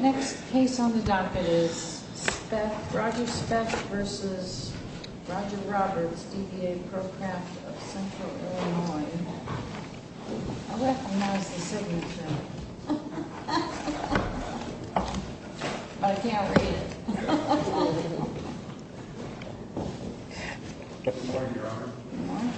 Next case on the docket is Roger Speth v. Roger Roberts, DBA Pro Craft of Central Illinois. I recognize the signature, but I can't read it. Good morning, Your Honor. Good morning.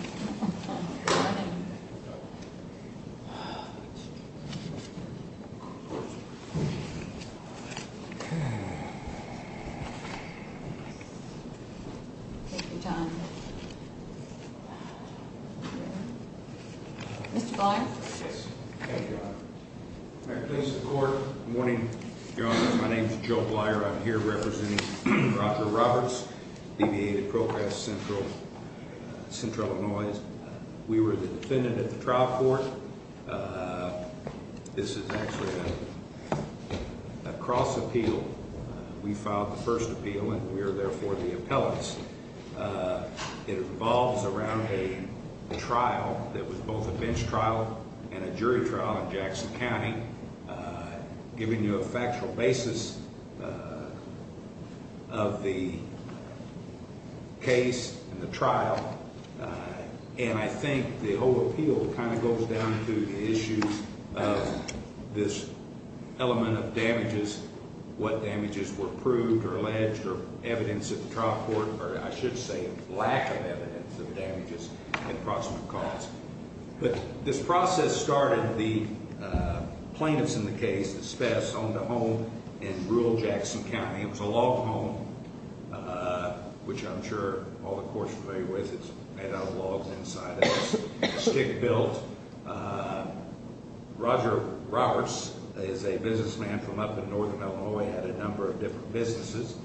Take your time. Mr. Blyer. Yes. Thank you, Your Honor. May I please have the court? Good morning, Your Honor. My name is Joe Blyer. I'm here representing Roger Roberts, DBA Pro Craft of Central Illinois. We were the defendant at the trial court. This is actually a cross appeal. We filed the first appeal, and we are therefore the appellants. It revolves around a trial that was both a bench trial and a jury trial in Jackson County. Giving you a factual basis of the case and the trial, and I think the whole appeal kind of goes down to the issues of this element of damages, what damages were proved or alleged or evidence at the trial court, or I should say lack of evidence of damages at proximate cause. But this process started, the plaintiff's in the case, the spouse, owned a home in rural Jackson County. It was a log home, which I'm sure all the courts are familiar with. It's made out of logs inside of it. It's stick built. Roger Roberts is a businessman from up in northern Illinois. He had a number of different businesses.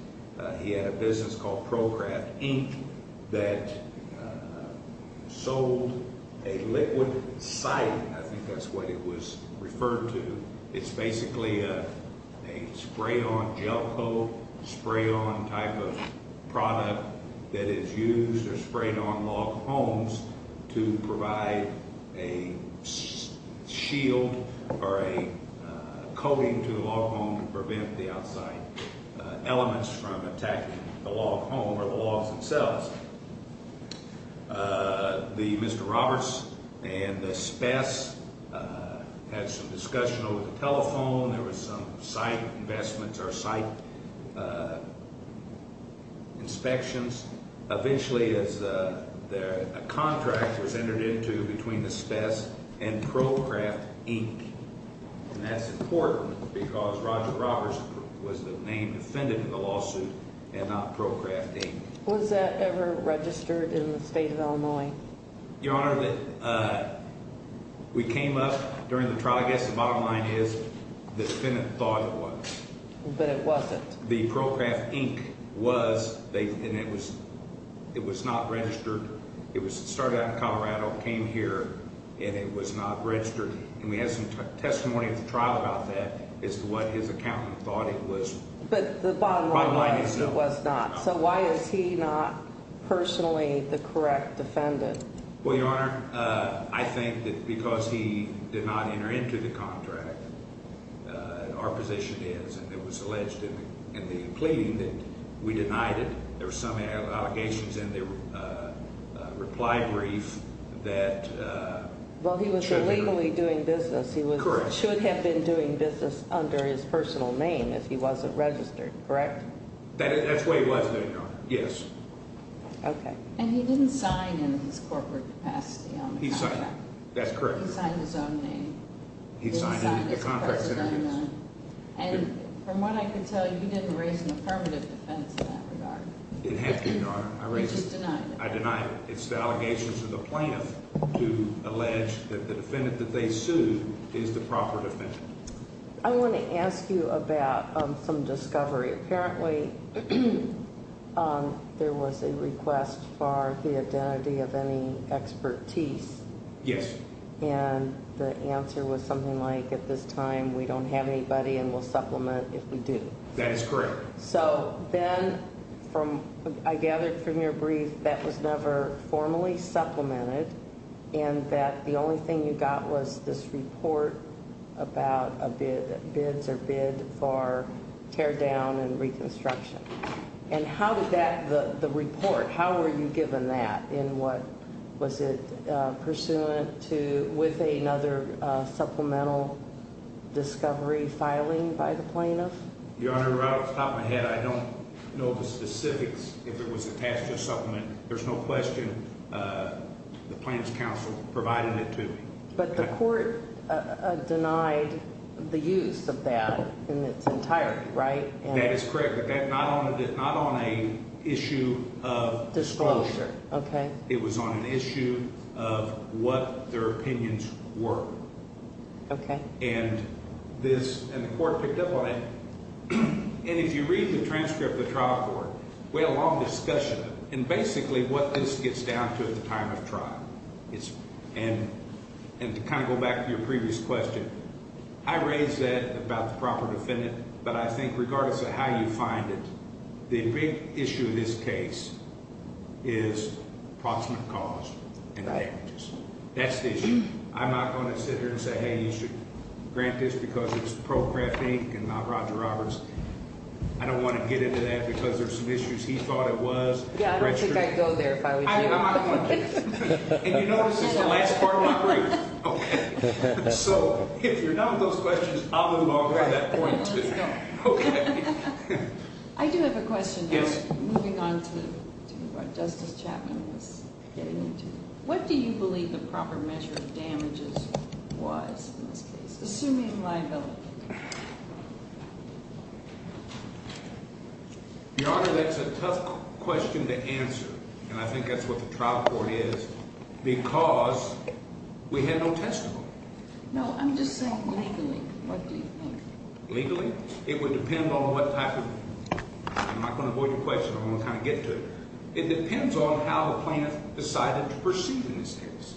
He had a business called Pro Craft Ink that sold a liquid siding. I think that's what it was referred to. It's basically a spray-on gel coat, spray-on type of product that is used or sprayed on log homes to provide a shield or a coating to the log home and prevent the outside elements from attacking the log home or the logs themselves. Mr. Roberts and the Spess had some discussion over the telephone. There was some site investments or site inspections. Eventually, a contract was entered into between the Spess and Pro Craft Ink. That's important because Roger Roberts was the main defendant in the lawsuit and not Pro Craft Ink. Was that ever registered in the state of Illinois? Your Honor, we came up during the trial. I guess the bottom line is the defendant thought it was. But it wasn't? The Pro Craft Ink was. It was not registered. It started out in Colorado, came here, and it was not registered. We had some testimony at the trial about that as to what his accountant thought it was. But the bottom line is it was not. So why is he not personally the correct defendant? Well, Your Honor, I think that because he did not enter into the contract, our position is, and it was alleged in the plea that we denied it. There were some allegations in the reply brief that… Well, he was illegally doing business. He should have been doing business under his personal name if he wasn't registered, correct? That's the way he was, Your Honor. Yes. And he didn't sign in his corporate capacity on the contract? He signed. That's correct, Your Honor. He signed his own name? He signed in the contract. And from what I can tell, you didn't raise an affirmative defense in that regard? It had to, Your Honor. I raised it. You just denied it? I denied it. It's the allegations of the plaintiff to allege that the defendant that they sued is the proper defendant. I want to ask you about some discovery. Apparently, there was a request for the identity of any expertise. Yes. And the answer was something like, at this time, we don't have anybody and we'll supplement if we do. That is correct. So then, I gathered from your brief, that was never formally supplemented and that the only thing you got was this report about bids or bid for teardown and reconstruction. And how did that, the report, how were you given that? Was it pursuant to, with another supplemental discovery filing by the plaintiff? Your Honor, right off the top of my head, I don't know the specifics. If it was attached to a supplement, there's no question the Plaintiff's counsel provided it to me. But the court denied the use of that in its entirety, right? That is correct, but not on a issue of disclosure. Okay. It was on an issue of what their opinions were. Okay. And this, and the court picked up on it. And if you read the transcript of the trial court, we had a long discussion of it, and basically what this gets down to at the time of trial. And to kind of go back to your previous question, I raised that about the proper defendant, but I think regardless of how you find it, the big issue in this case is approximate cause and damages. That's the issue. I'm not going to sit here and say, hey, you should grant this because it's ProCraft Inc. and not Roger Roberts. I don't want to get into that because there's some issues he thought it was. Yeah, I don't think I'd go there if I was you. I'm not going to do this. And you know this is the last part of my brief. Okay. So, if you're done with those questions, I'll move on from that point too. Let's go. Okay. I do have a question. Yes. Moving on to what Justice Chapman was getting into. What do you believe the proper measure of damages was in this case, assuming liability? Your Honor, that's a tough question to answer, and I think that's what the trial court is, because we had no testimony. No, I'm just saying legally. What do you think? Legally? It would depend on what type of—I'm not going to avoid your question. I'm going to kind of get to it. It depends on how the plaintiff decided to proceed in this case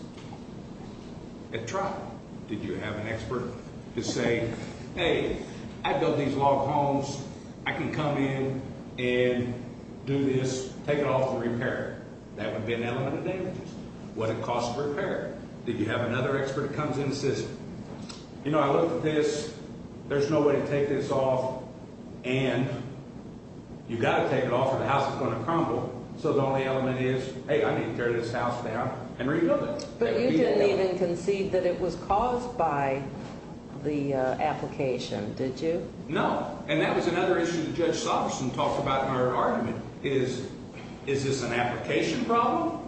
at trial. Did you have an expert to say, hey, I built these log homes. I can come in and do this, take it off for repair. That would be an element of damages. What did it cost to repair it? Did you have another expert that comes in and says, you know, I looked at this. There's no way to take this off, and you've got to take it off or the house is going to crumble. So the only element is, hey, I need to tear this house down and rebuild it. But you didn't even concede that it was caused by the application, did you? No. And that was another issue that Judge Somerson talked about in her argument is, is this an application problem?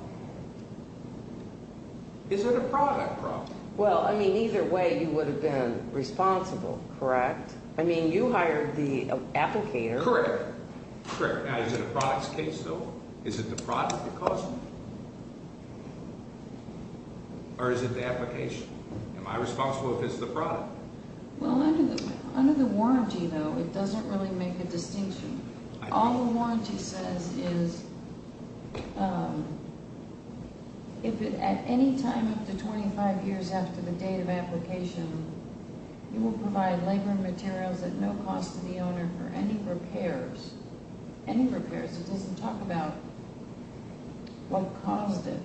Is it a product problem? Well, I mean, either way, you would have been responsible, correct? I mean, you hired the applicator. Correct. Now, is it a product's case, though? Is it the product that caused it? Or is it the application? Am I responsible if it's the product? Well, under the warranty, though, it doesn't really make a distinction. All the warranty says is if at any time up to 25 years after the date of application, you will provide labor materials at no cost to the owner for any repairs. Any repairs. It doesn't talk about what caused it.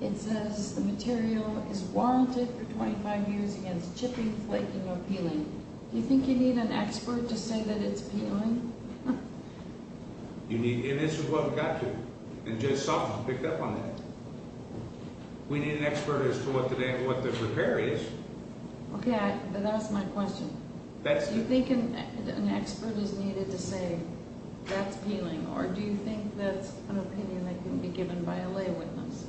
It says the material is warranted for 25 years against chipping, flaking, or peeling. Do you think you need an expert to say that it's peeling? And this is what we got to. And Judge Somerson picked up on that. We need an expert as to what the repair is. Okay, but that's my question. Do you think an expert is needed to say that's peeling? Or do you think that's an opinion that can be given by a lay witness?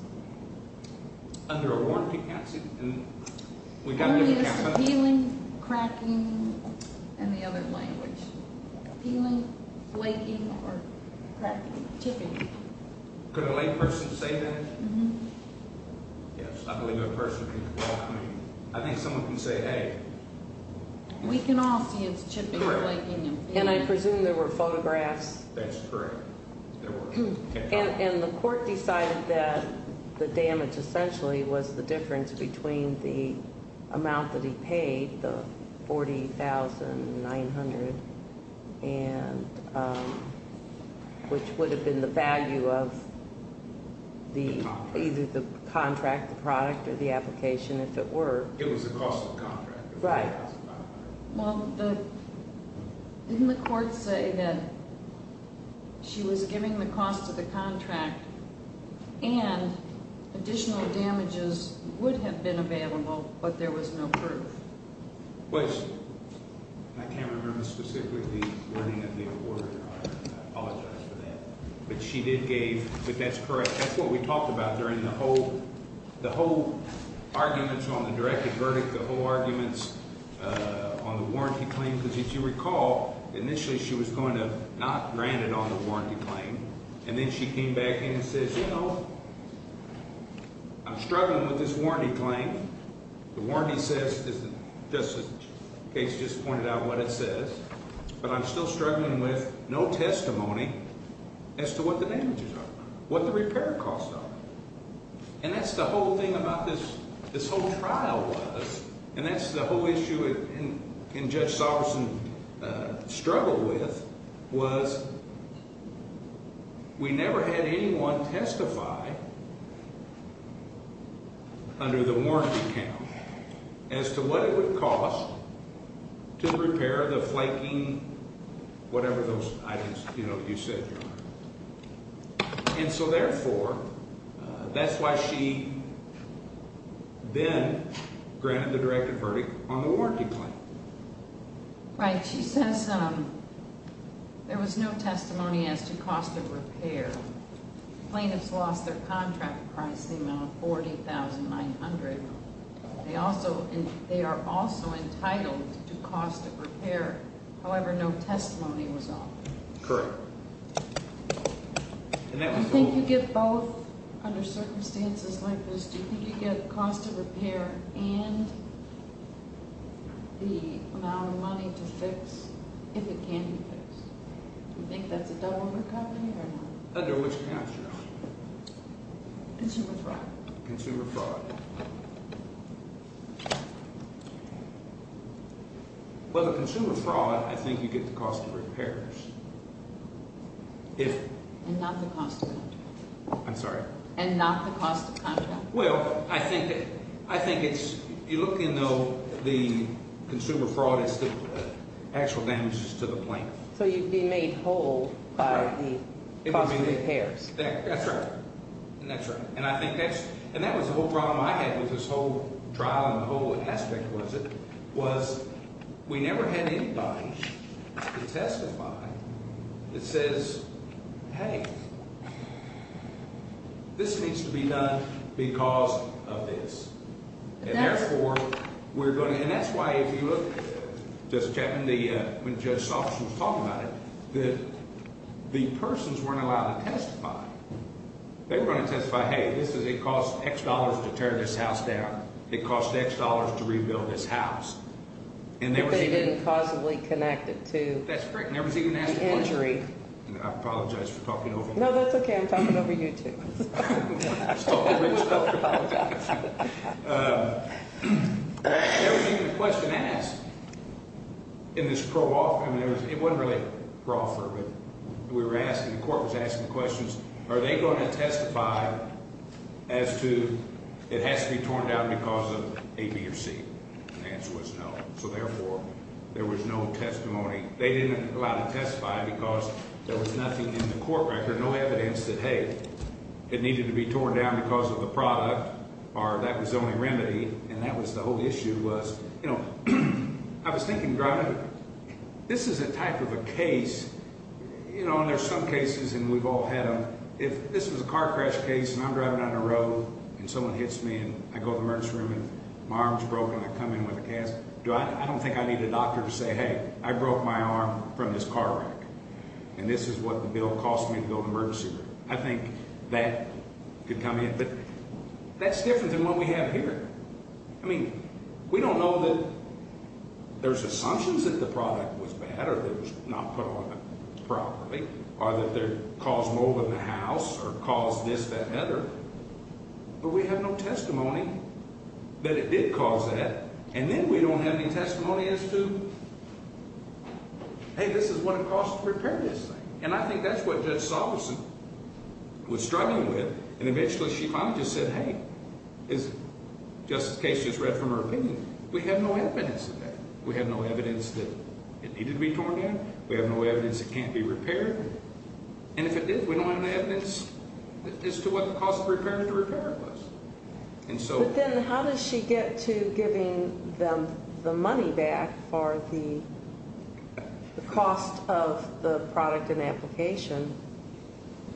Under a warranty, that's it. And we got to get an expert. Peeling, cracking, and the other language. Peeling, flaking, or chipping. Could a lay person say that? Yes, I believe a person can talk to me. I think someone can say, hey. We can all see it's chipping, flaking, and peeling. And I presume there were photographs. That's correct. And the court decided that the damage essentially was the difference between the amount that he paid, the $40,900, which would have been the value of either the contract, the product, or the application, if it were. It was the cost of the contract, the $40,900. Right. Well, didn't the court say that she was giving the cost of the contract, and additional damages would have been available, but there was no proof? Well, I can't remember specifically the wording of the order. I apologize for that. But she did give, but that's correct. That's what we talked about during the whole arguments on the directed verdict, the whole arguments on the warranty claim. Because if you recall, initially she was going to not grant it on the warranty claim. And then she came back in and says, you know, I'm struggling with this warranty claim. The warranty says, just in case you just pointed out what it says, but I'm still struggling with no testimony as to what the damages are, what the repair costs are. And that's the whole thing about this whole trial was, and that's the whole issue that Judge Salverson struggled with, was we never had anyone testify under the warranty account as to what it would cost to repair the flaking, whatever those items, you know, you said, Your Honor. And so therefore, that's why she then granted the directed verdict on the warranty claim. Right. She says there was no testimony as to cost of repair. Plaintiffs lost their contract pricing on $40,900. They are also entitled to cost of repair, however, no testimony was offered. Correct. I think you get both under circumstances like this. Do you think you get the cost of repair and the amount of money to fix if it can be fixed? Do you think that's a double recovery or not? Under which count, Your Honor? Consumer fraud. Consumer fraud. Well, the consumer fraud, I think you get the cost of repairs. And not the cost of contract. I'm sorry? And not the cost of contract. Well, I think it's – you look in, though, the consumer fraud is the actual damages to the plaintiff. So you'd be made whole by the cost of repairs. That's right. And that's right. The problem I had with this whole trial and the whole aspect of it was we never had anybody to testify that says, hey, this needs to be done because of this. And therefore, we're going to – and that's why if you look, Justice Chapman, when Judge Salk was talking about it, that the persons weren't allowed to testify. They were going to testify, hey, this is – it costs X dollars to tear this house down. It costs X dollars to rebuild this house. And there was even – But they didn't causally connect it to the injury. I apologize for talking over you. No, that's okay. I'm talking over you, too. I apologize. There was even a question asked in this pro-offer. I mean, it wasn't really a pro-offer. We were asking – the court was asking questions. Are they going to testify as to it has to be torn down because of A, B, or C? The answer was no. So therefore, there was no testimony. They didn't allow to testify because there was nothing in the court record, no evidence that, hey, it needed to be torn down because of the product or that was the only remedy. And that was the whole issue was, you know, I was thinking driving – this is a type of a case, you know, and there's some cases and we've all had them. If this was a car crash case and I'm driving down the road and someone hits me and I go to the emergency room and my arm's broken and I come in with a cast, I don't think I need a doctor to say, hey, I broke my arm from this car wreck and this is what the bill cost me to go to the emergency room. I think that could come in. But that's different than what we have here. I mean, we don't know that there's assumptions that the product was bad or that it was not put on properly or that there caused mold in the house or caused this, that, that. But we have no testimony that it did cause that. And then we don't have any testimony as to, hey, this is what it costs to repair this thing. And I think that's what Judge Solison was struggling with and eventually she finally just said, hey, as Justice Case just read from her opinion, we have no evidence of that. We have no evidence that it needed to be torn down. We have no evidence it can't be repaired. And if it did, we don't have any evidence as to what the cost of repair to repair it was. But then how does she get to giving them the money back for the cost of the product and application?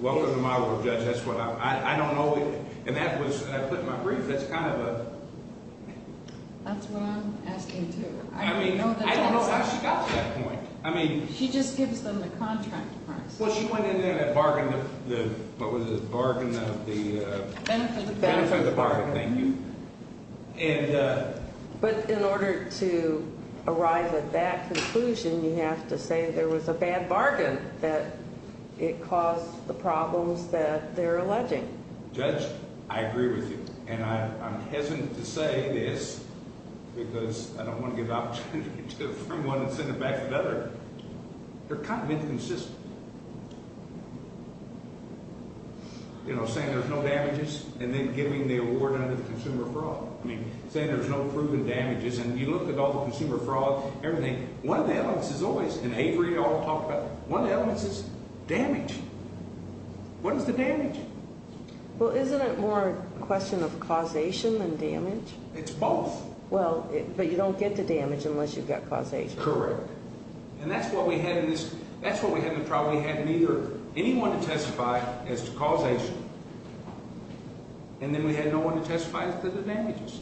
Well, in my world, Judge, that's what I'm, I don't know. And that was, I put in my brief, that's kind of a. That's what I'm asking too. I mean, I don't know how she got to that point. I mean. She just gives them the contract price. Well, she went into that bargain. What was it? Bargain of the. Benefit of the bargain. Benefit of the bargain. Thank you. And. But in order to arrive at that conclusion, you have to say there was a bad bargain. That it caused the problems that they're alleging. Judge, I agree with you. And I'm hesitant to say this because I don't want to give the opportunity to affirm one and send it back to the other. They're kind of inconsistent. You know, saying there's no damages and then giving the award under the consumer fraud. I mean, saying there's no proven damages. And you look at all the consumer fraud, everything. One of the elements is always, and Avery all talked about, one of the elements is damage. What is the damage? Well, isn't it more a question of causation than damage? It's both. Well, but you don't get the damage unless you've got causation. That's correct. And that's what we had in this. That's what we had in the trial. We had neither anyone to testify as to causation. And then we had no one to testify as to the damages.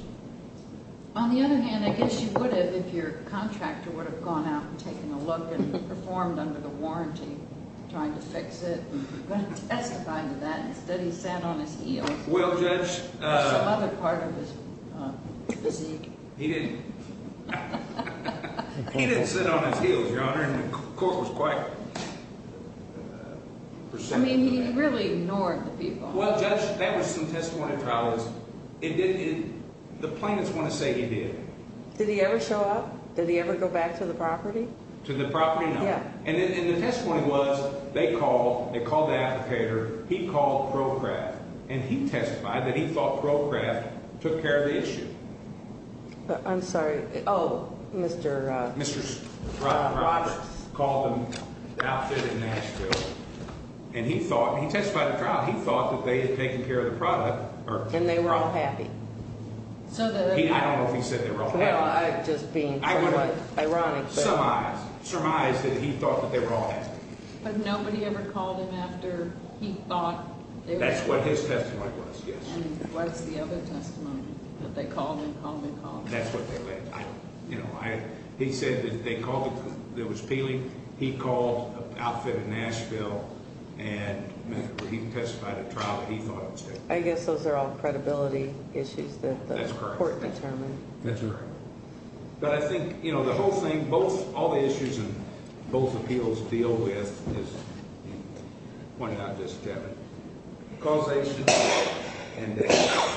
On the other hand, I guess you would have if your contractor would have gone out and taken a look and performed under the warranty, trying to fix it. You wouldn't testify to that. Instead, he sat on his heels. Well, Judge. Or some other part of his physique. He didn't. He didn't sit on his heels, Your Honor. And the court was quite perceptive. I mean, he really ignored the people. Well, Judge, that was some testimony in trial. The plaintiffs want to say he did. Did he ever show up? Did he ever go back to the property? To the property? No. And the testimony was they called the applicator. He called ProCraft. And he testified that he thought ProCraft took care of the issue. I'm sorry. Oh, Mr. Rodgers. Mr. Rodgers called them outfitted in Nashville. And he testified in trial. He thought that they had taken care of the product. And they were all happy. I don't know if he said they were all happy. Well, I've just been somewhat ironic. I want to surmise that he thought that they were all happy. But nobody ever called him after he thought. That's what his testimony was, yes. And what's the other testimony? That they called him, called him, called him. That's what they said. You know, he said that they called him. There was peeling. He called outfitted in Nashville. And, remember, he testified in trial. He thought it was taken care of. I guess those are all credibility issues that the court determined. That's correct. That's correct. But I think, you know, the whole thing, both all the issues and both appeals deal with is, one, not just Kevin, causation and damage.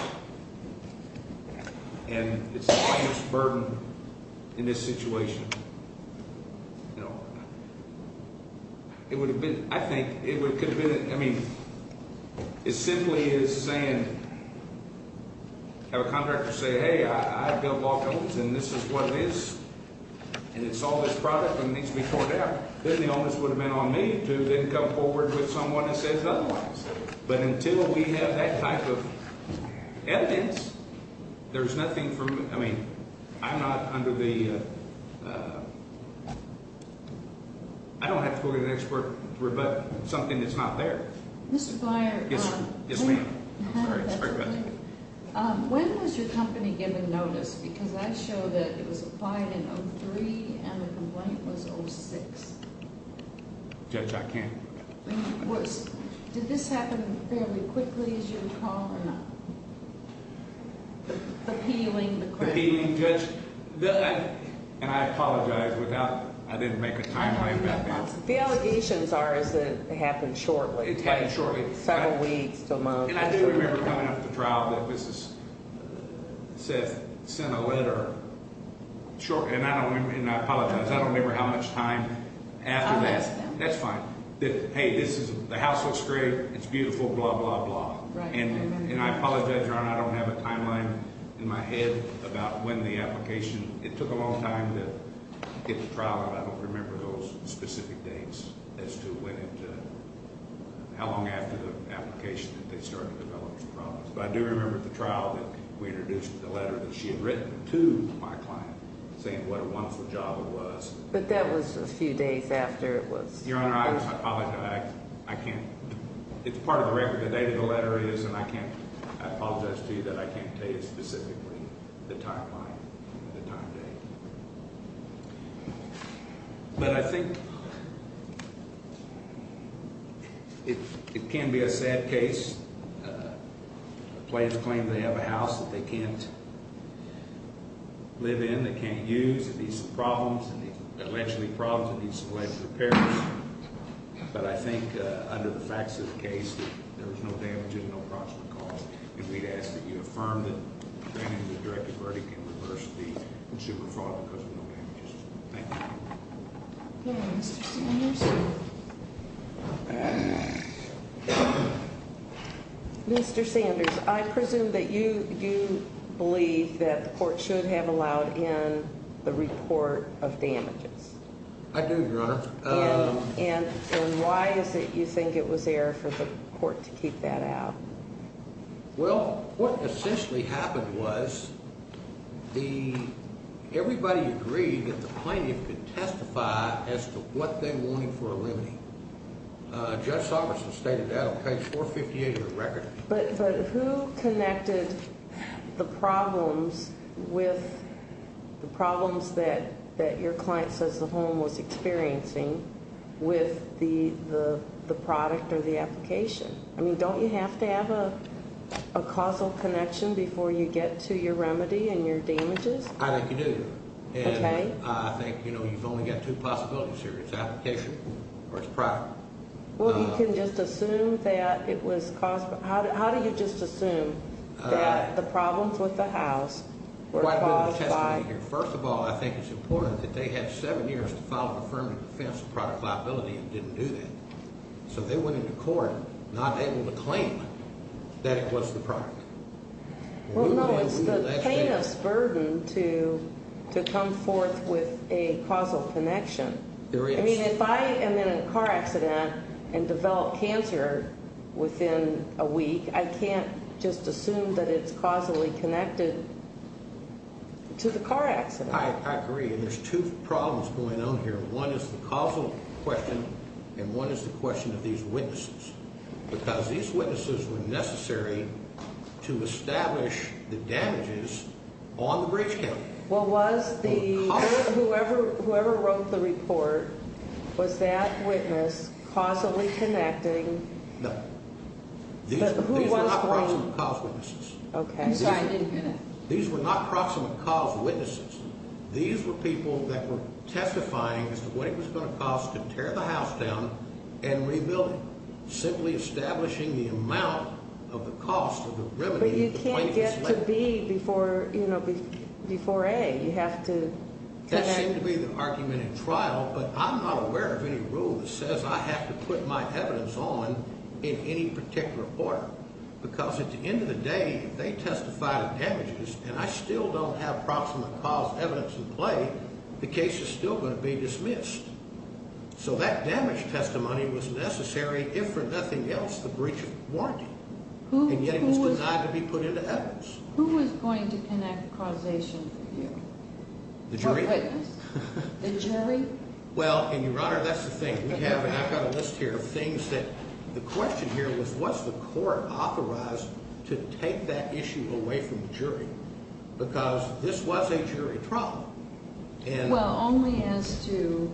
And it's the greatest burden in this situation. You know, it would have been, I think, it could have been, I mean, it simply is saying, have a contractor say, hey, I've built law firms and this is what it is, and it's all this product and it needs to be poured out. Then the onus would have been on me to then come forward with someone that says otherwise. But until we have that type of evidence, there's nothing for me. I mean, I'm not under the ‑‑ I don't have to go to the next court to rebut something that's not there. Mr. Byer. Yes, ma'am. Yes, ma'am. Sorry. Sorry about that. When was your company given notice? Because I show that it was applied in 03 and the complaint was 06. Judge, I can't. Did this happen fairly quickly, as you recall, or not? Appealing the criminal? Appealing, Judge. And I apologize. I didn't make a time frame back then. The allegations are that it happened shortly. It happened shortly. Several weeks to a month. And I do remember coming out of the trial that Seth sent a letter shortly. And I apologize. I don't remember how much time after that. I'll ask them. That's fine. Hey, the house looks great. It's beautiful, blah, blah, blah. Right. And I apologize, Your Honor. I don't have a timeline in my head about when the application ‑‑ it took a long time to get the trial out. I don't remember those specific dates as to when it ‑‑ how long after the application that they started to develop these problems. But I do remember at the trial that we introduced the letter that she had written to my client saying what a wonderful job it was. But that was a few days after it was ‑‑ Your Honor, I apologize. I can't ‑‑ it's part of the record. The date of the letter is, and I can't ‑‑ I apologize to you that I can't tell you specifically the timeline, the time date. But I think it can be a sad case. Clients claim they have a house that they can't live in, they can't use. It needs some problems. It will eventually be problems. It needs some life repairs. But I think under the facts of the case, there was no damage and no proximate cause. And we'd ask that you affirm that granting the directed verdict in reverse the consumer fraud because of no damages. Thank you. All right. Mr. Sanders? Mr. Sanders, I presume that you believe that the court should have allowed in the report of damages. I do, Your Honor. And why is it you think it was error for the court to keep that out? Well, what essentially happened was the ‑‑ everybody agreed that the plaintiff could testify as to what they wanted for a limiting. Judge Soberson stated that on page 458 of the record. But who connected the problems with the problems that your client says the home was experiencing with the product or the application? I mean, don't you have to have a causal connection before you get to your remedy and your damages? I think you do. Okay. And I think, you know, you've only got two possibilities here. It's application or it's product. Well, you can just assume that it was cause ‑‑ how do you just assume that the problems with the house were caused by ‑‑ Quite a bit of testimony here. First of all, I think it's important that they had seven years to file an affirmative defense of product liability and didn't do that. So they went into court not able to claim that it was the product. Well, no, it's the plaintiff's burden to come forth with a causal connection. There is. I mean, if I am in a car accident and develop cancer within a week, I can't just assume that it's causally connected to the car accident. I agree. And there's two problems going on here. One is the causal question and one is the question of these witnesses. Because these witnesses were necessary to establish the damages on the bridge county. Well, was the ‑‑ whoever wrote the report, was that witness causally connecting? No. These were not proximate cause witnesses. Okay. These were not proximate cause witnesses. These were people that were testifying as to what it was going to cost to tear the house down and rebuild it, simply establishing the amount of the cost of the remedy. But you can't get to B before, you know, before A. You have to connect. That seemed to be the argument in trial, but I'm not aware of any rule that says I have to put my evidence on in any particular order. Because at the end of the day, if they testify to damages and I still don't have proximate cause evidence in play, the case is still going to be dismissed. So that damage testimony was necessary, if for nothing else, the breach of warranty. And yet it was denied to be put into evidence. Who was going to connect causation for you? The jury. The jury? Well, and, Your Honor, that's the thing. I've got a list here of things that the question here was, was the court authorized to take that issue away from the jury? Because this was a jury trial. Well, only as to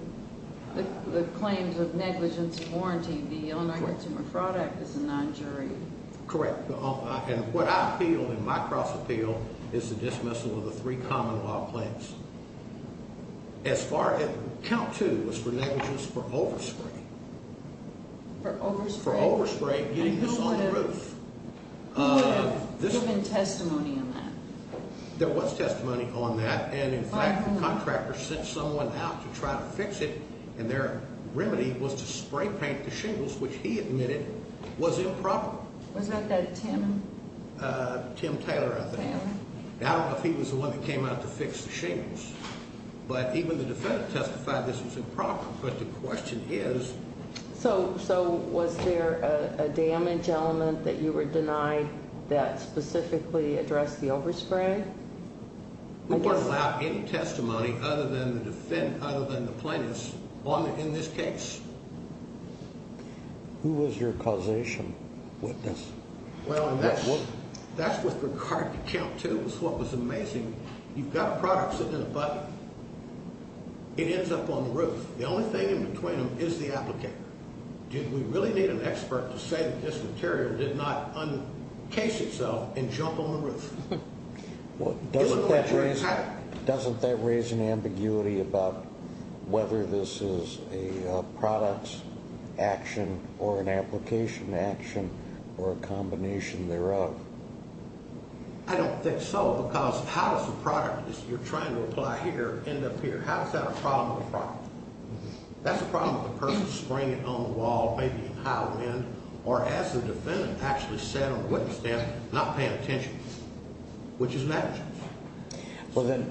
the claims of negligence of warranty. The Illinois Consumer Fraud Act is a non-jury. Correct. And what I feel in my cross-appeal is the dismissal of the three common law claims. As far as, count two was for negligence for overspray. For overspray? For overspray, getting this on the roof. Who would have given testimony on that? There was testimony on that. And, in fact, the contractor sent someone out to try to fix it. And their remedy was to spray paint the shingles, which he admitted was improper. Was that that Tim? Tim Taylor, I think. I don't know if he was the one that came out to fix the shingles. But even the defendant testified this was improper. But the question is... So, was there a damage element that you were denied that specifically addressed the overspray? We weren't allowed any testimony other than the plaintiff's in this case. Who was your causation witness? Well, that's with regard to count two is what was amazing. You've got a product sitting in a bucket. It ends up on the roof. The only thing in between them is the applicator. Do we really need an expert to say that this material did not uncase itself and jump on the roof? Doesn't that raise an ambiguity about whether this is a product action or an application action or a combination thereof? I don't think so. Because how does a product that you're trying to apply here end up here? How is that a problem with the problem? That's a problem with the person spraying it on the wall, maybe in high wind. Or as the defendant actually said on the witness stand, not paying attention, which is an action. Well, then,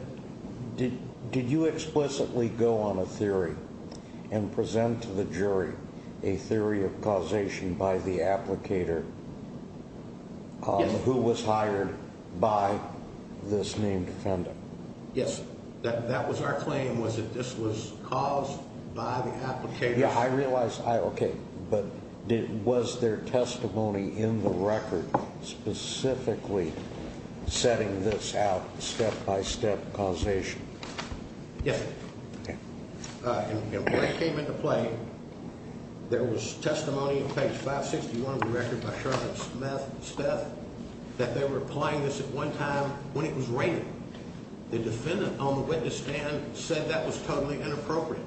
did you explicitly go on a theory and present to the jury a theory of causation by the applicator who was hired by this named defendant? Yes. That was our claim was that this was caused by the applicator. Yeah, I realize. Okay. But was there testimony in the record specifically setting this out step-by-step causation? Yes, sir. When it came into play, there was testimony on page 561 of the record by Sheriff Smith and Speth that they were applying this at one time when it was raining. The defendant on the witness stand said that was totally inappropriate,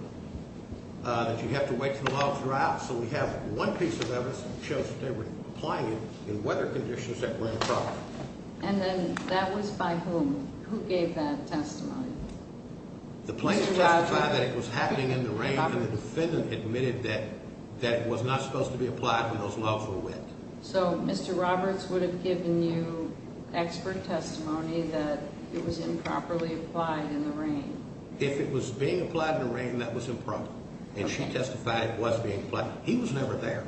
that you have to wait for the logs to dry out. So we have one piece of evidence that shows that they were applying it in weather conditions that were improper. And then that was by whom? Who gave that testimony? The plaintiff testified that it was happening in the rain and the defendant admitted that it was not supposed to be applied when those logs were wet. So Mr. Roberts would have given you expert testimony that it was improperly applied in the rain? If it was being applied in the rain, that was improper. And she testified it was being applied. He was never there.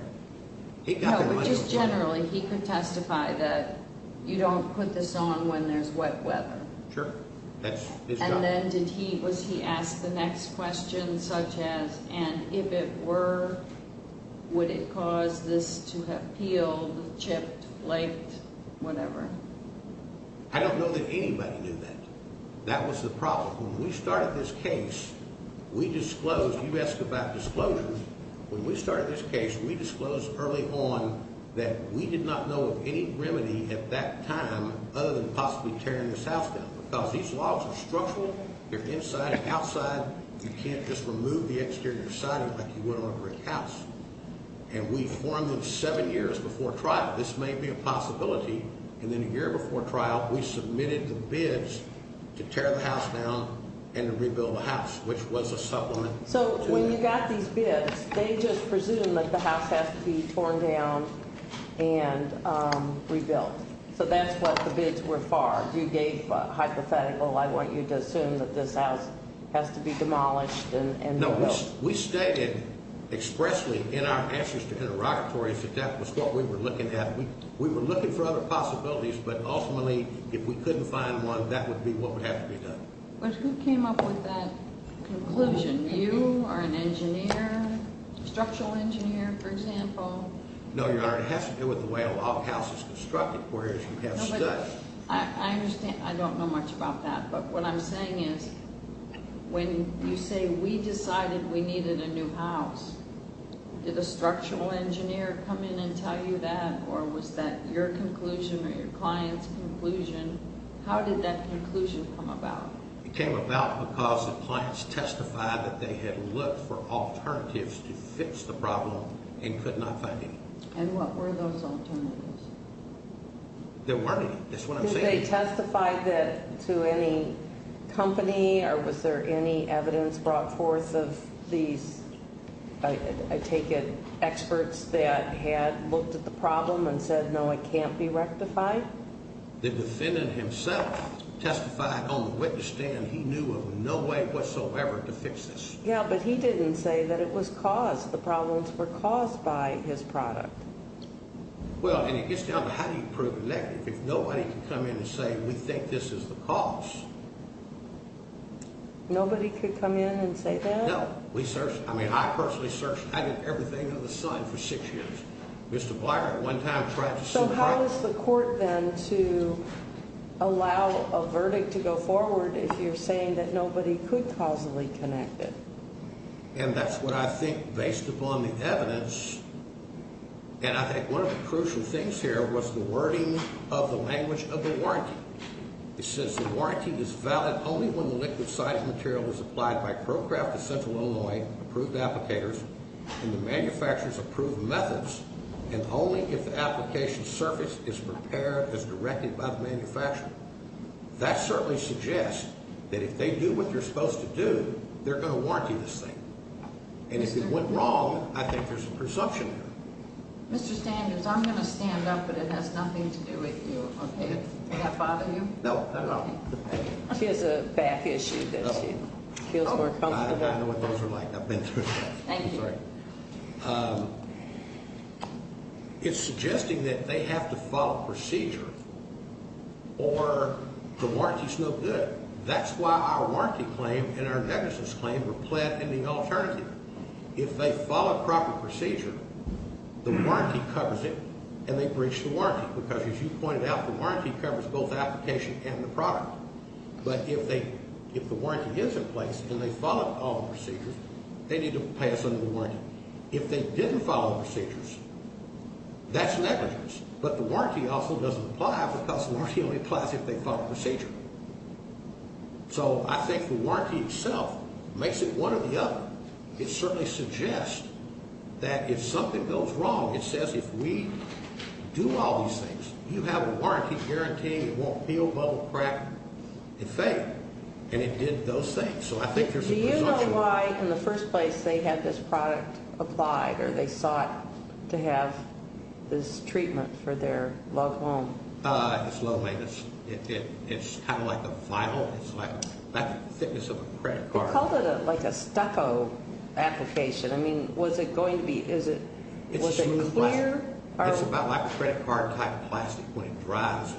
No, but just generally, he could testify that you don't put this on when there's wet weather. Sure. That's his job. And then did he, was he asked the next question such as, and if it were, would it cause this to have peeled, chipped, flaked, whatever? I don't know that anybody knew that. That was the problem. When we started this case, we disclosed, you asked about disclosures. When we started this case, we disclosed early on that we did not know of any remedy at that time other than possibly tearing this house down. Because these logs are structural. They're inside and outside. You can't just remove the exterior siding like you would on a brick house. And we formed them seven years before trial. This may be a possibility. And then a year before trial, we submitted the bids to tear the house down and to rebuild the house, which was a supplement. So when you got these bids, they just presumed that the house has to be torn down and rebuilt. So that's what the bids were for. You gave a hypothetical, I want you to assume that this house has to be demolished and rebuilt. No, we stated expressly in our answers to interrogatories that that was what we were looking at. We were looking for other possibilities, but ultimately, if we couldn't find one, that would be what would have to be done. But who came up with that conclusion? You or an engineer, structural engineer, for example? No, Your Honor, it has to do with the way a log house is constructed, whereas we have studs. I understand. I don't know much about that. But what I'm saying is, when you say we decided we needed a new house, did a structural engineer come in and tell you that? Or was that your conclusion or your client's conclusion? How did that conclusion come about? It came about because the clients testified that they had looked for alternatives to fix the problem and could not find any. And what were those alternatives? There weren't any. That's what I'm saying. Did they testify to any company or was there any evidence brought forth of these, I take it, experts that had looked at the problem and said, no, it can't be rectified? The defendant himself testified on the witness stand. He knew of no way whatsoever to fix this. Yeah, but he didn't say that it was caused. The problems were caused by his product. Well, and it gets down to how do you prove a negative? If nobody can come in and say, we think this is the cause. Nobody could come in and say that? No. We searched. I mean, I personally searched. I did everything under the sun for six years. So how is the court then to allow a verdict to go forward if you're saying that nobody could causally connect it? And that's what I think, based upon the evidence, and I think one of the crucial things here was the wording of the language of the warranty. It says the warranty is valid only when the liquid site material is applied by ProCraft Essential Illinois approved applicators and the manufacturer's approved methods and only if the application surface is prepared as directed by the manufacturer. That certainly suggests that if they do what they're supposed to do, they're going to warranty this thing. And if it went wrong, I think there's a presumption. Mr. Standards, I'm going to stand up, but it has nothing to do with you. Did that bother you? No, not at all. She has a back issue that she feels more comfortable with. I know what those are like. I've been through that. Thank you. I'm sorry. It's suggesting that they have to follow procedure or the warranty's no good. That's why our warranty claim and our negligence claim were pled in the alternative. If they follow proper procedure, the warranty covers it and they breach the warranty because, as you pointed out, the warranty covers both the application and the product. But if the warranty is in place and they follow all the procedures, they need to pay us under the warranty. If they didn't follow the procedures, that's negligence. But the warranty also doesn't apply because the warranty only applies if they follow procedure. So I think the warranty itself makes it one or the other. It certainly suggests that if something goes wrong, it says if we do all these things, you have a warranty guaranteeing it won't peel, bubble, crack, and fade. And it did those things. Do you know why, in the first place, they had this product applied or they sought to have this treatment for their loved one? It's low maintenance. It's kind of like a vinyl. It's like the thickness of a credit card. They called it like a stucco application. I mean, was it going to be – was it clear? It's about like a credit card type of plastic when it dries.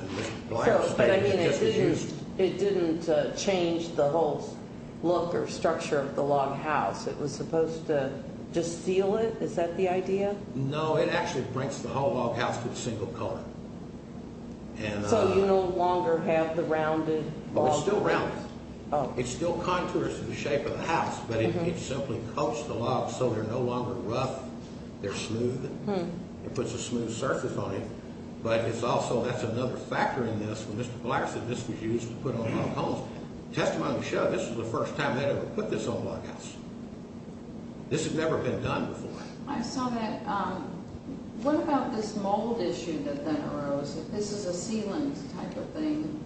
But I mean, it didn't change the whole look or structure of the log house. It was supposed to just seal it. Is that the idea? No, it actually brings the whole log house to a single coat. So you no longer have the rounded – Oh, it's still rounded. Oh. It still contours to the shape of the house, but it simply coats the log so they're no longer rough. They're smooth. It puts a smooth surface on it. But it's also – that's another factor in this. When Mr. Black said this was used to put on log homes, testimony to show this was the first time they ever put this on a log house. This had never been done before. I saw that. What about this mold issue that then arose? This is a sealant type of thing.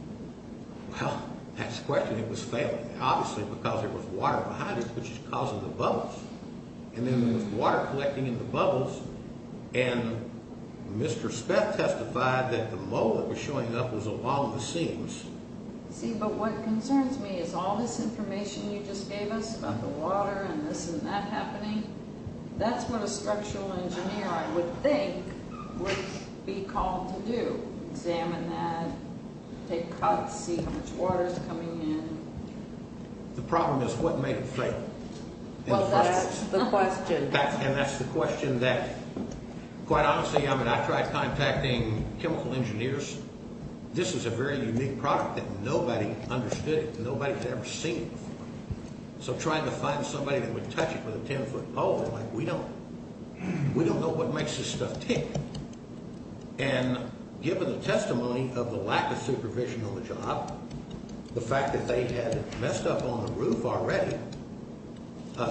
Well, that's the question. It was failing, obviously, because there was water behind it, which is causing the bubbles. And then there was water collecting in the bubbles. And Mr. Speth testified that the mold that was showing up was along the seams. See, but what concerns me is all this information you just gave us about the water and this and that happening. That's what a structural engineer, I would think, would be called to do, examine that, take cuts, see how much water is coming in. The problem is what made it fail? Well, that's the question. And that's the question that, quite honestly, I mean, I tried contacting chemical engineers. This is a very unique product that nobody understood it. Nobody had ever seen it before. So trying to find somebody that would touch it with a ten-foot pole, like, we don't know what makes this stuff tick. And given the testimony of the lack of supervision on the job, the fact that they had messed up on the roof already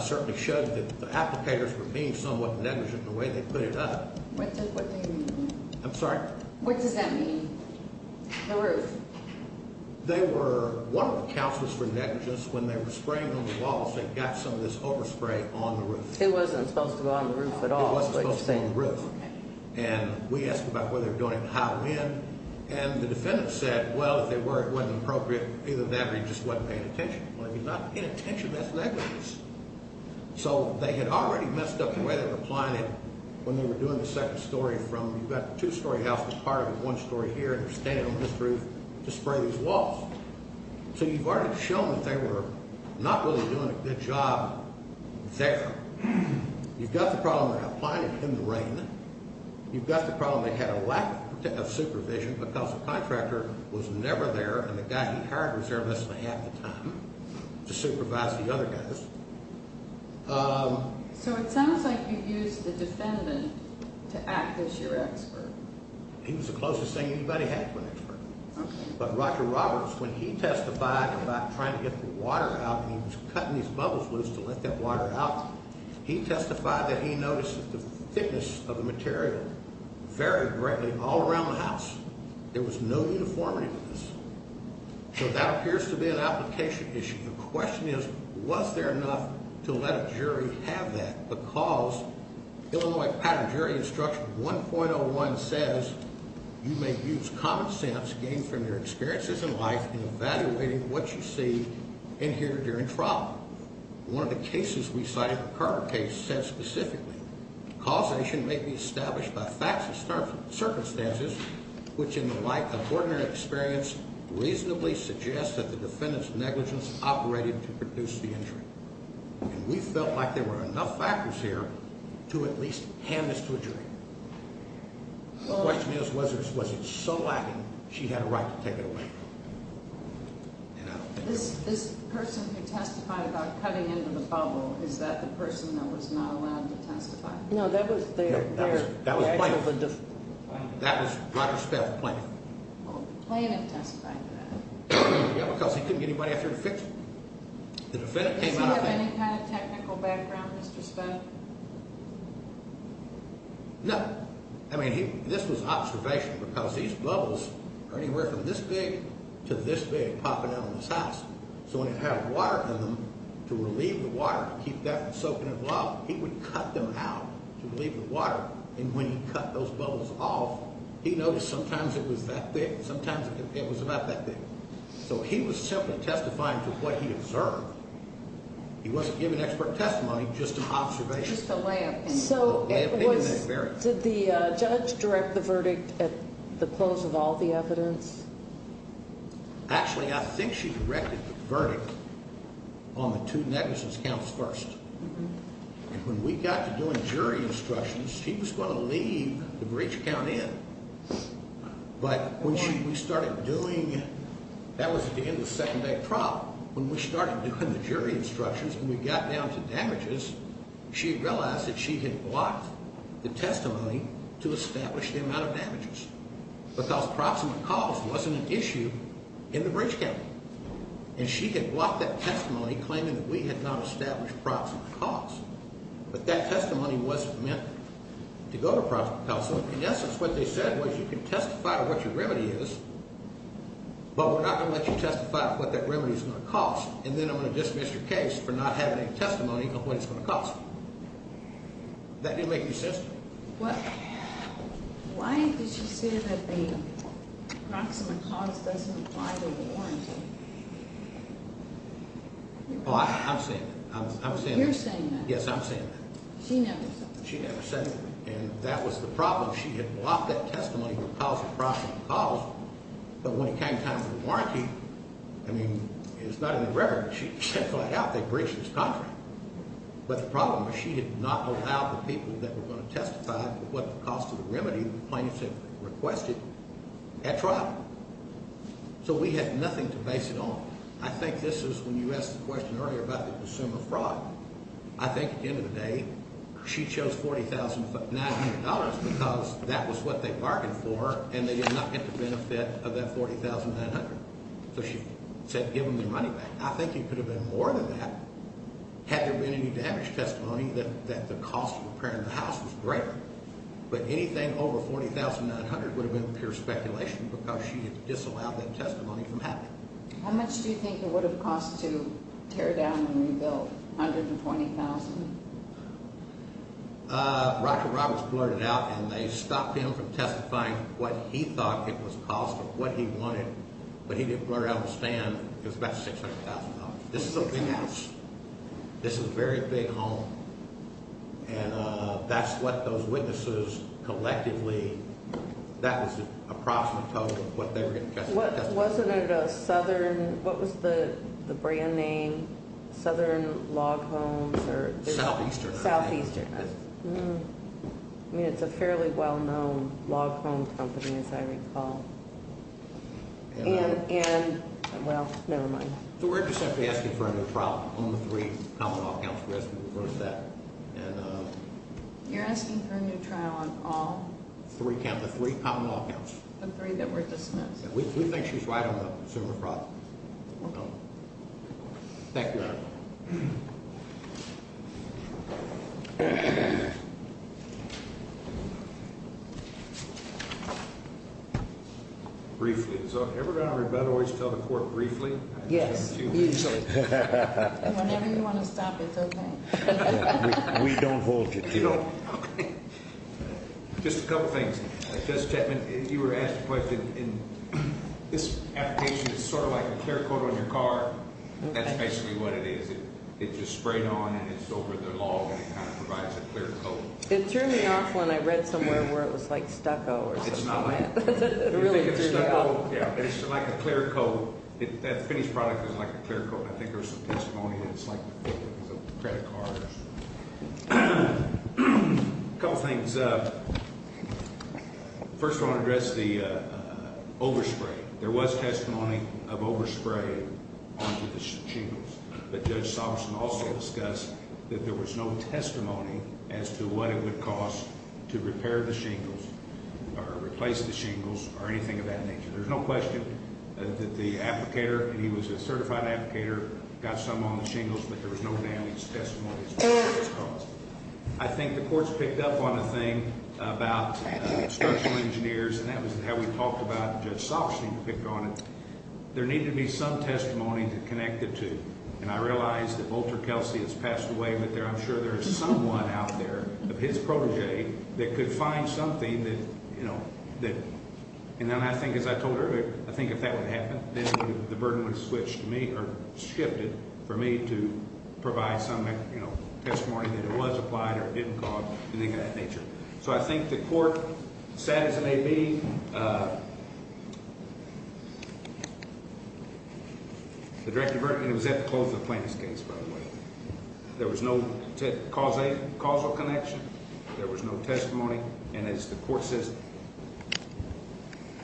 certainly showed that the applicators were being somewhat negligent in the way they put it up. What does that mean? I'm sorry? What does that mean, the roof? They were one of the counselors for negligence. When they were spraying on the walls, they got some of this overspray on the roof. It wasn't supposed to go on the roof at all. It wasn't supposed to go on the roof. And we asked about whether they were doing it in high wind. And the defendant said, well, if they were, it wasn't appropriate. Either that or he just wasn't paying attention. Well, if he's not paying attention, that's negligence. So they had already messed up the way they were applying it when they were doing the second story from, you've got the two-story house that's part of it, one story here, and they're staying on this roof to spray these walls. So you've already shown that they were not really doing a good job there. You've got the problem they're applying it in the rain. You've got the problem they had a lack of supervision because the contractor was never there and the guy he hired was there less than half the time to supervise the other guys. So it sounds like you used the defendant to act as your expert. He was the closest thing anybody had to an expert. But Roger Roberts, when he testified about trying to get the water out and he was cutting these bubbles loose to let that water out, he testified that he noticed that the thickness of the material varied greatly all around the house. There was no uniformity with this. So that appears to be an application issue. The question is, was there enough to let a jury have that? Because Illinois Pattern Jury Instruction 1.01 says, you may use common sense gained from your experiences in life in evaluating what you see and hear during trial. One of the cases we cited, the Carter case, said specifically, causation may be established by facts and circumstances which, in the light of ordinary experience, reasonably suggest that the defendant's negligence operated to produce the injury. And we felt like there were enough factors here to at least hand this to a jury. The question is, was it so lacking she had a right to take it away? This person who testified about cutting into the bubble, is that the person that was not allowed to testify? No, that was their... That was plaintiff. That was Roger Steff, plaintiff. Well, the plaintiff testified to that. Yeah, because he couldn't get anybody after him to fix it. Does he have any kind of technical background, Mr. Speck? No. I mean, this was observation because these bubbles are anywhere from this big to this big popping out of this house. So when he'd have water in them to relieve the water, keep that from soaking involved, he would cut them out to relieve the water. And when he cut those bubbles off, he noticed sometimes it was that big, sometimes it was about that big. So he was simply testifying to what he observed. He wasn't giving expert testimony, just an observation. Just a layup. Did the judge direct the verdict at the close of all the evidence? Actually, I think she directed the verdict on the two negligence counts first. And when we got to doing jury instructions, she was going to leave the breach count in. But when we started doing it, that was at the end of the second day of trial. When we started doing the jury instructions and we got down to damages, she realized that she had blocked the testimony to establish the amount of damages because proximate cause wasn't an issue in the breach count. And she had blocked that testimony claiming that we had not established proximate cause. But that testimony wasn't meant to go to proximate cause. So in essence, what they said was you can testify to what your remedy is, but we're not going to let you testify to what that remedy is going to cost, and then I'm going to dismiss your case for not having any testimony of what it's going to cost. That didn't make any sense to me. Why did she say that the proximate cause doesn't apply to the warranty? Oh, I'm saying that. You're saying that? Yes, I'm saying that. She never said that. She never said that. And that was the problem. She had blocked that testimony because of proximate cause. But when it came time for the warranty, I mean, it's not in the record. She checked that out. They breached this contract. But the problem is she did not allow the people that were going to testify to what the cost of the remedy the plaintiff had requested at trial. So we had nothing to base it on. I think this is when you asked the question earlier about the consumer fraud. I think at the end of the day, she chose $40,900 because that was what they bargained for and they did not get the benefit of that $40,900. So she said give them their money back. I think it could have been more than that had there been any damage testimony that the cost of repairing the house was greater. But anything over $40,900 would have been pure speculation because she had disallowed that testimony from happening. How much do you think it would have cost to tear down and rebuild? $120,000? Roger Roberts blurted it out, and they stopped him from testifying what he thought it was the cost of what he wanted. But he didn't blurt it out on the stand. It was about $600,000. This is a big house. This is a very big home. And that's what those witnesses collectively— that was the approximate total of what they were going to testify. Wasn't it a Southern—what was the brand name? Southern Log Homes or— Southeastern. Southeastern. It's a fairly well-known log home company, as I recall. Well, never mind. So we're just asking for a new trial on the three common law counts. We're asking for that. You're asking for a new trial on all? The three common law counts. The three that were dismissed. Thank you, Your Honor. Thank you. Briefly. So everybody on rebuttal always tell the court briefly? Yes. Usually. Whenever you want to stop, it's okay. We don't hold you to it. Okay. Just a couple things. Justice Chapman, you were asked a question, and this application is sort of like a clear coat on your car. Okay. That's basically what it is. It's just sprayed on, and it's over the log, and it kind of provides a clear coat. It threw me off when I read somewhere where it was like stucco or something like that. It's not like that. It really threw me off. You think it's stucco? Yeah, but it's like a clear coat. That finished product is like a clear coat. I think there was some testimony that it's like the coating of a credit card. A couple things. First, I want to address the overspray. There was testimony of overspray onto the shingles, but Judge Soberson also discussed that there was no testimony as to what it would cost to repair the shingles or replace the shingles or anything of that nature. There's no question that the applicator, and he was a certified applicator, got some on the shingles, but there was no damage testimony as to what it was costing. I think the courts picked up on the thing about structural engineers, and that was how we talked about Judge Soberson picked on it. There needed to be some testimony to connect the two, and I realize that Walter Kelsey has passed away, but I'm sure there is someone out there, his protege, that could find something that, you know, and then I think, as I told her, I think if that would happen, then the burden would switch to me or shift it for me to provide some, you know, testimony that it was applied or didn't cause anything of that nature. So I think the court, sad as it may be, the direct verdict, and it was at the close of the plaintiff's case, by the way. There was no causal connection. There was no testimony, and as the court says,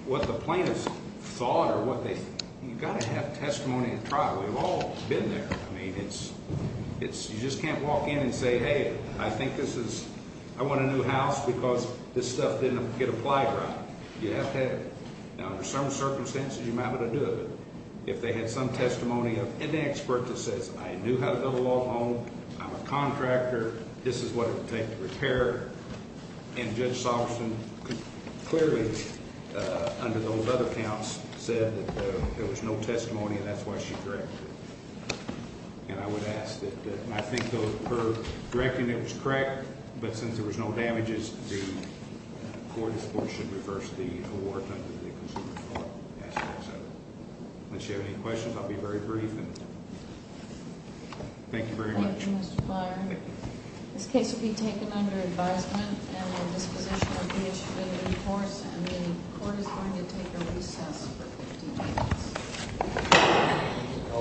what the plaintiffs thought or what they, you've got to have testimony at trial. We've all been there. I mean, it's, you just can't walk in and say, hey, I think this is, I want a new house because this stuff didn't get applied right. You have to have it. Now, under some circumstances, you might want to do it. If they had some testimony of an expert that says, I knew how to build a log home, I'm a contractor, this is what it would take to repair it, and Judge Solverston clearly, under those other counts, said that there was no testimony and that's why she corrected it. And I would ask that, and I think her correcting it was correct, but since there was no damages, the court, of course, should reverse the award under the consumer court aspects of it. Unless you have any questions, I'll be very brief. Thank you very much. Thank you, Mr. Byer. This case will be taken under advisement and will disposition of the issue to the courts, and the court is going to take a recess for 15 minutes.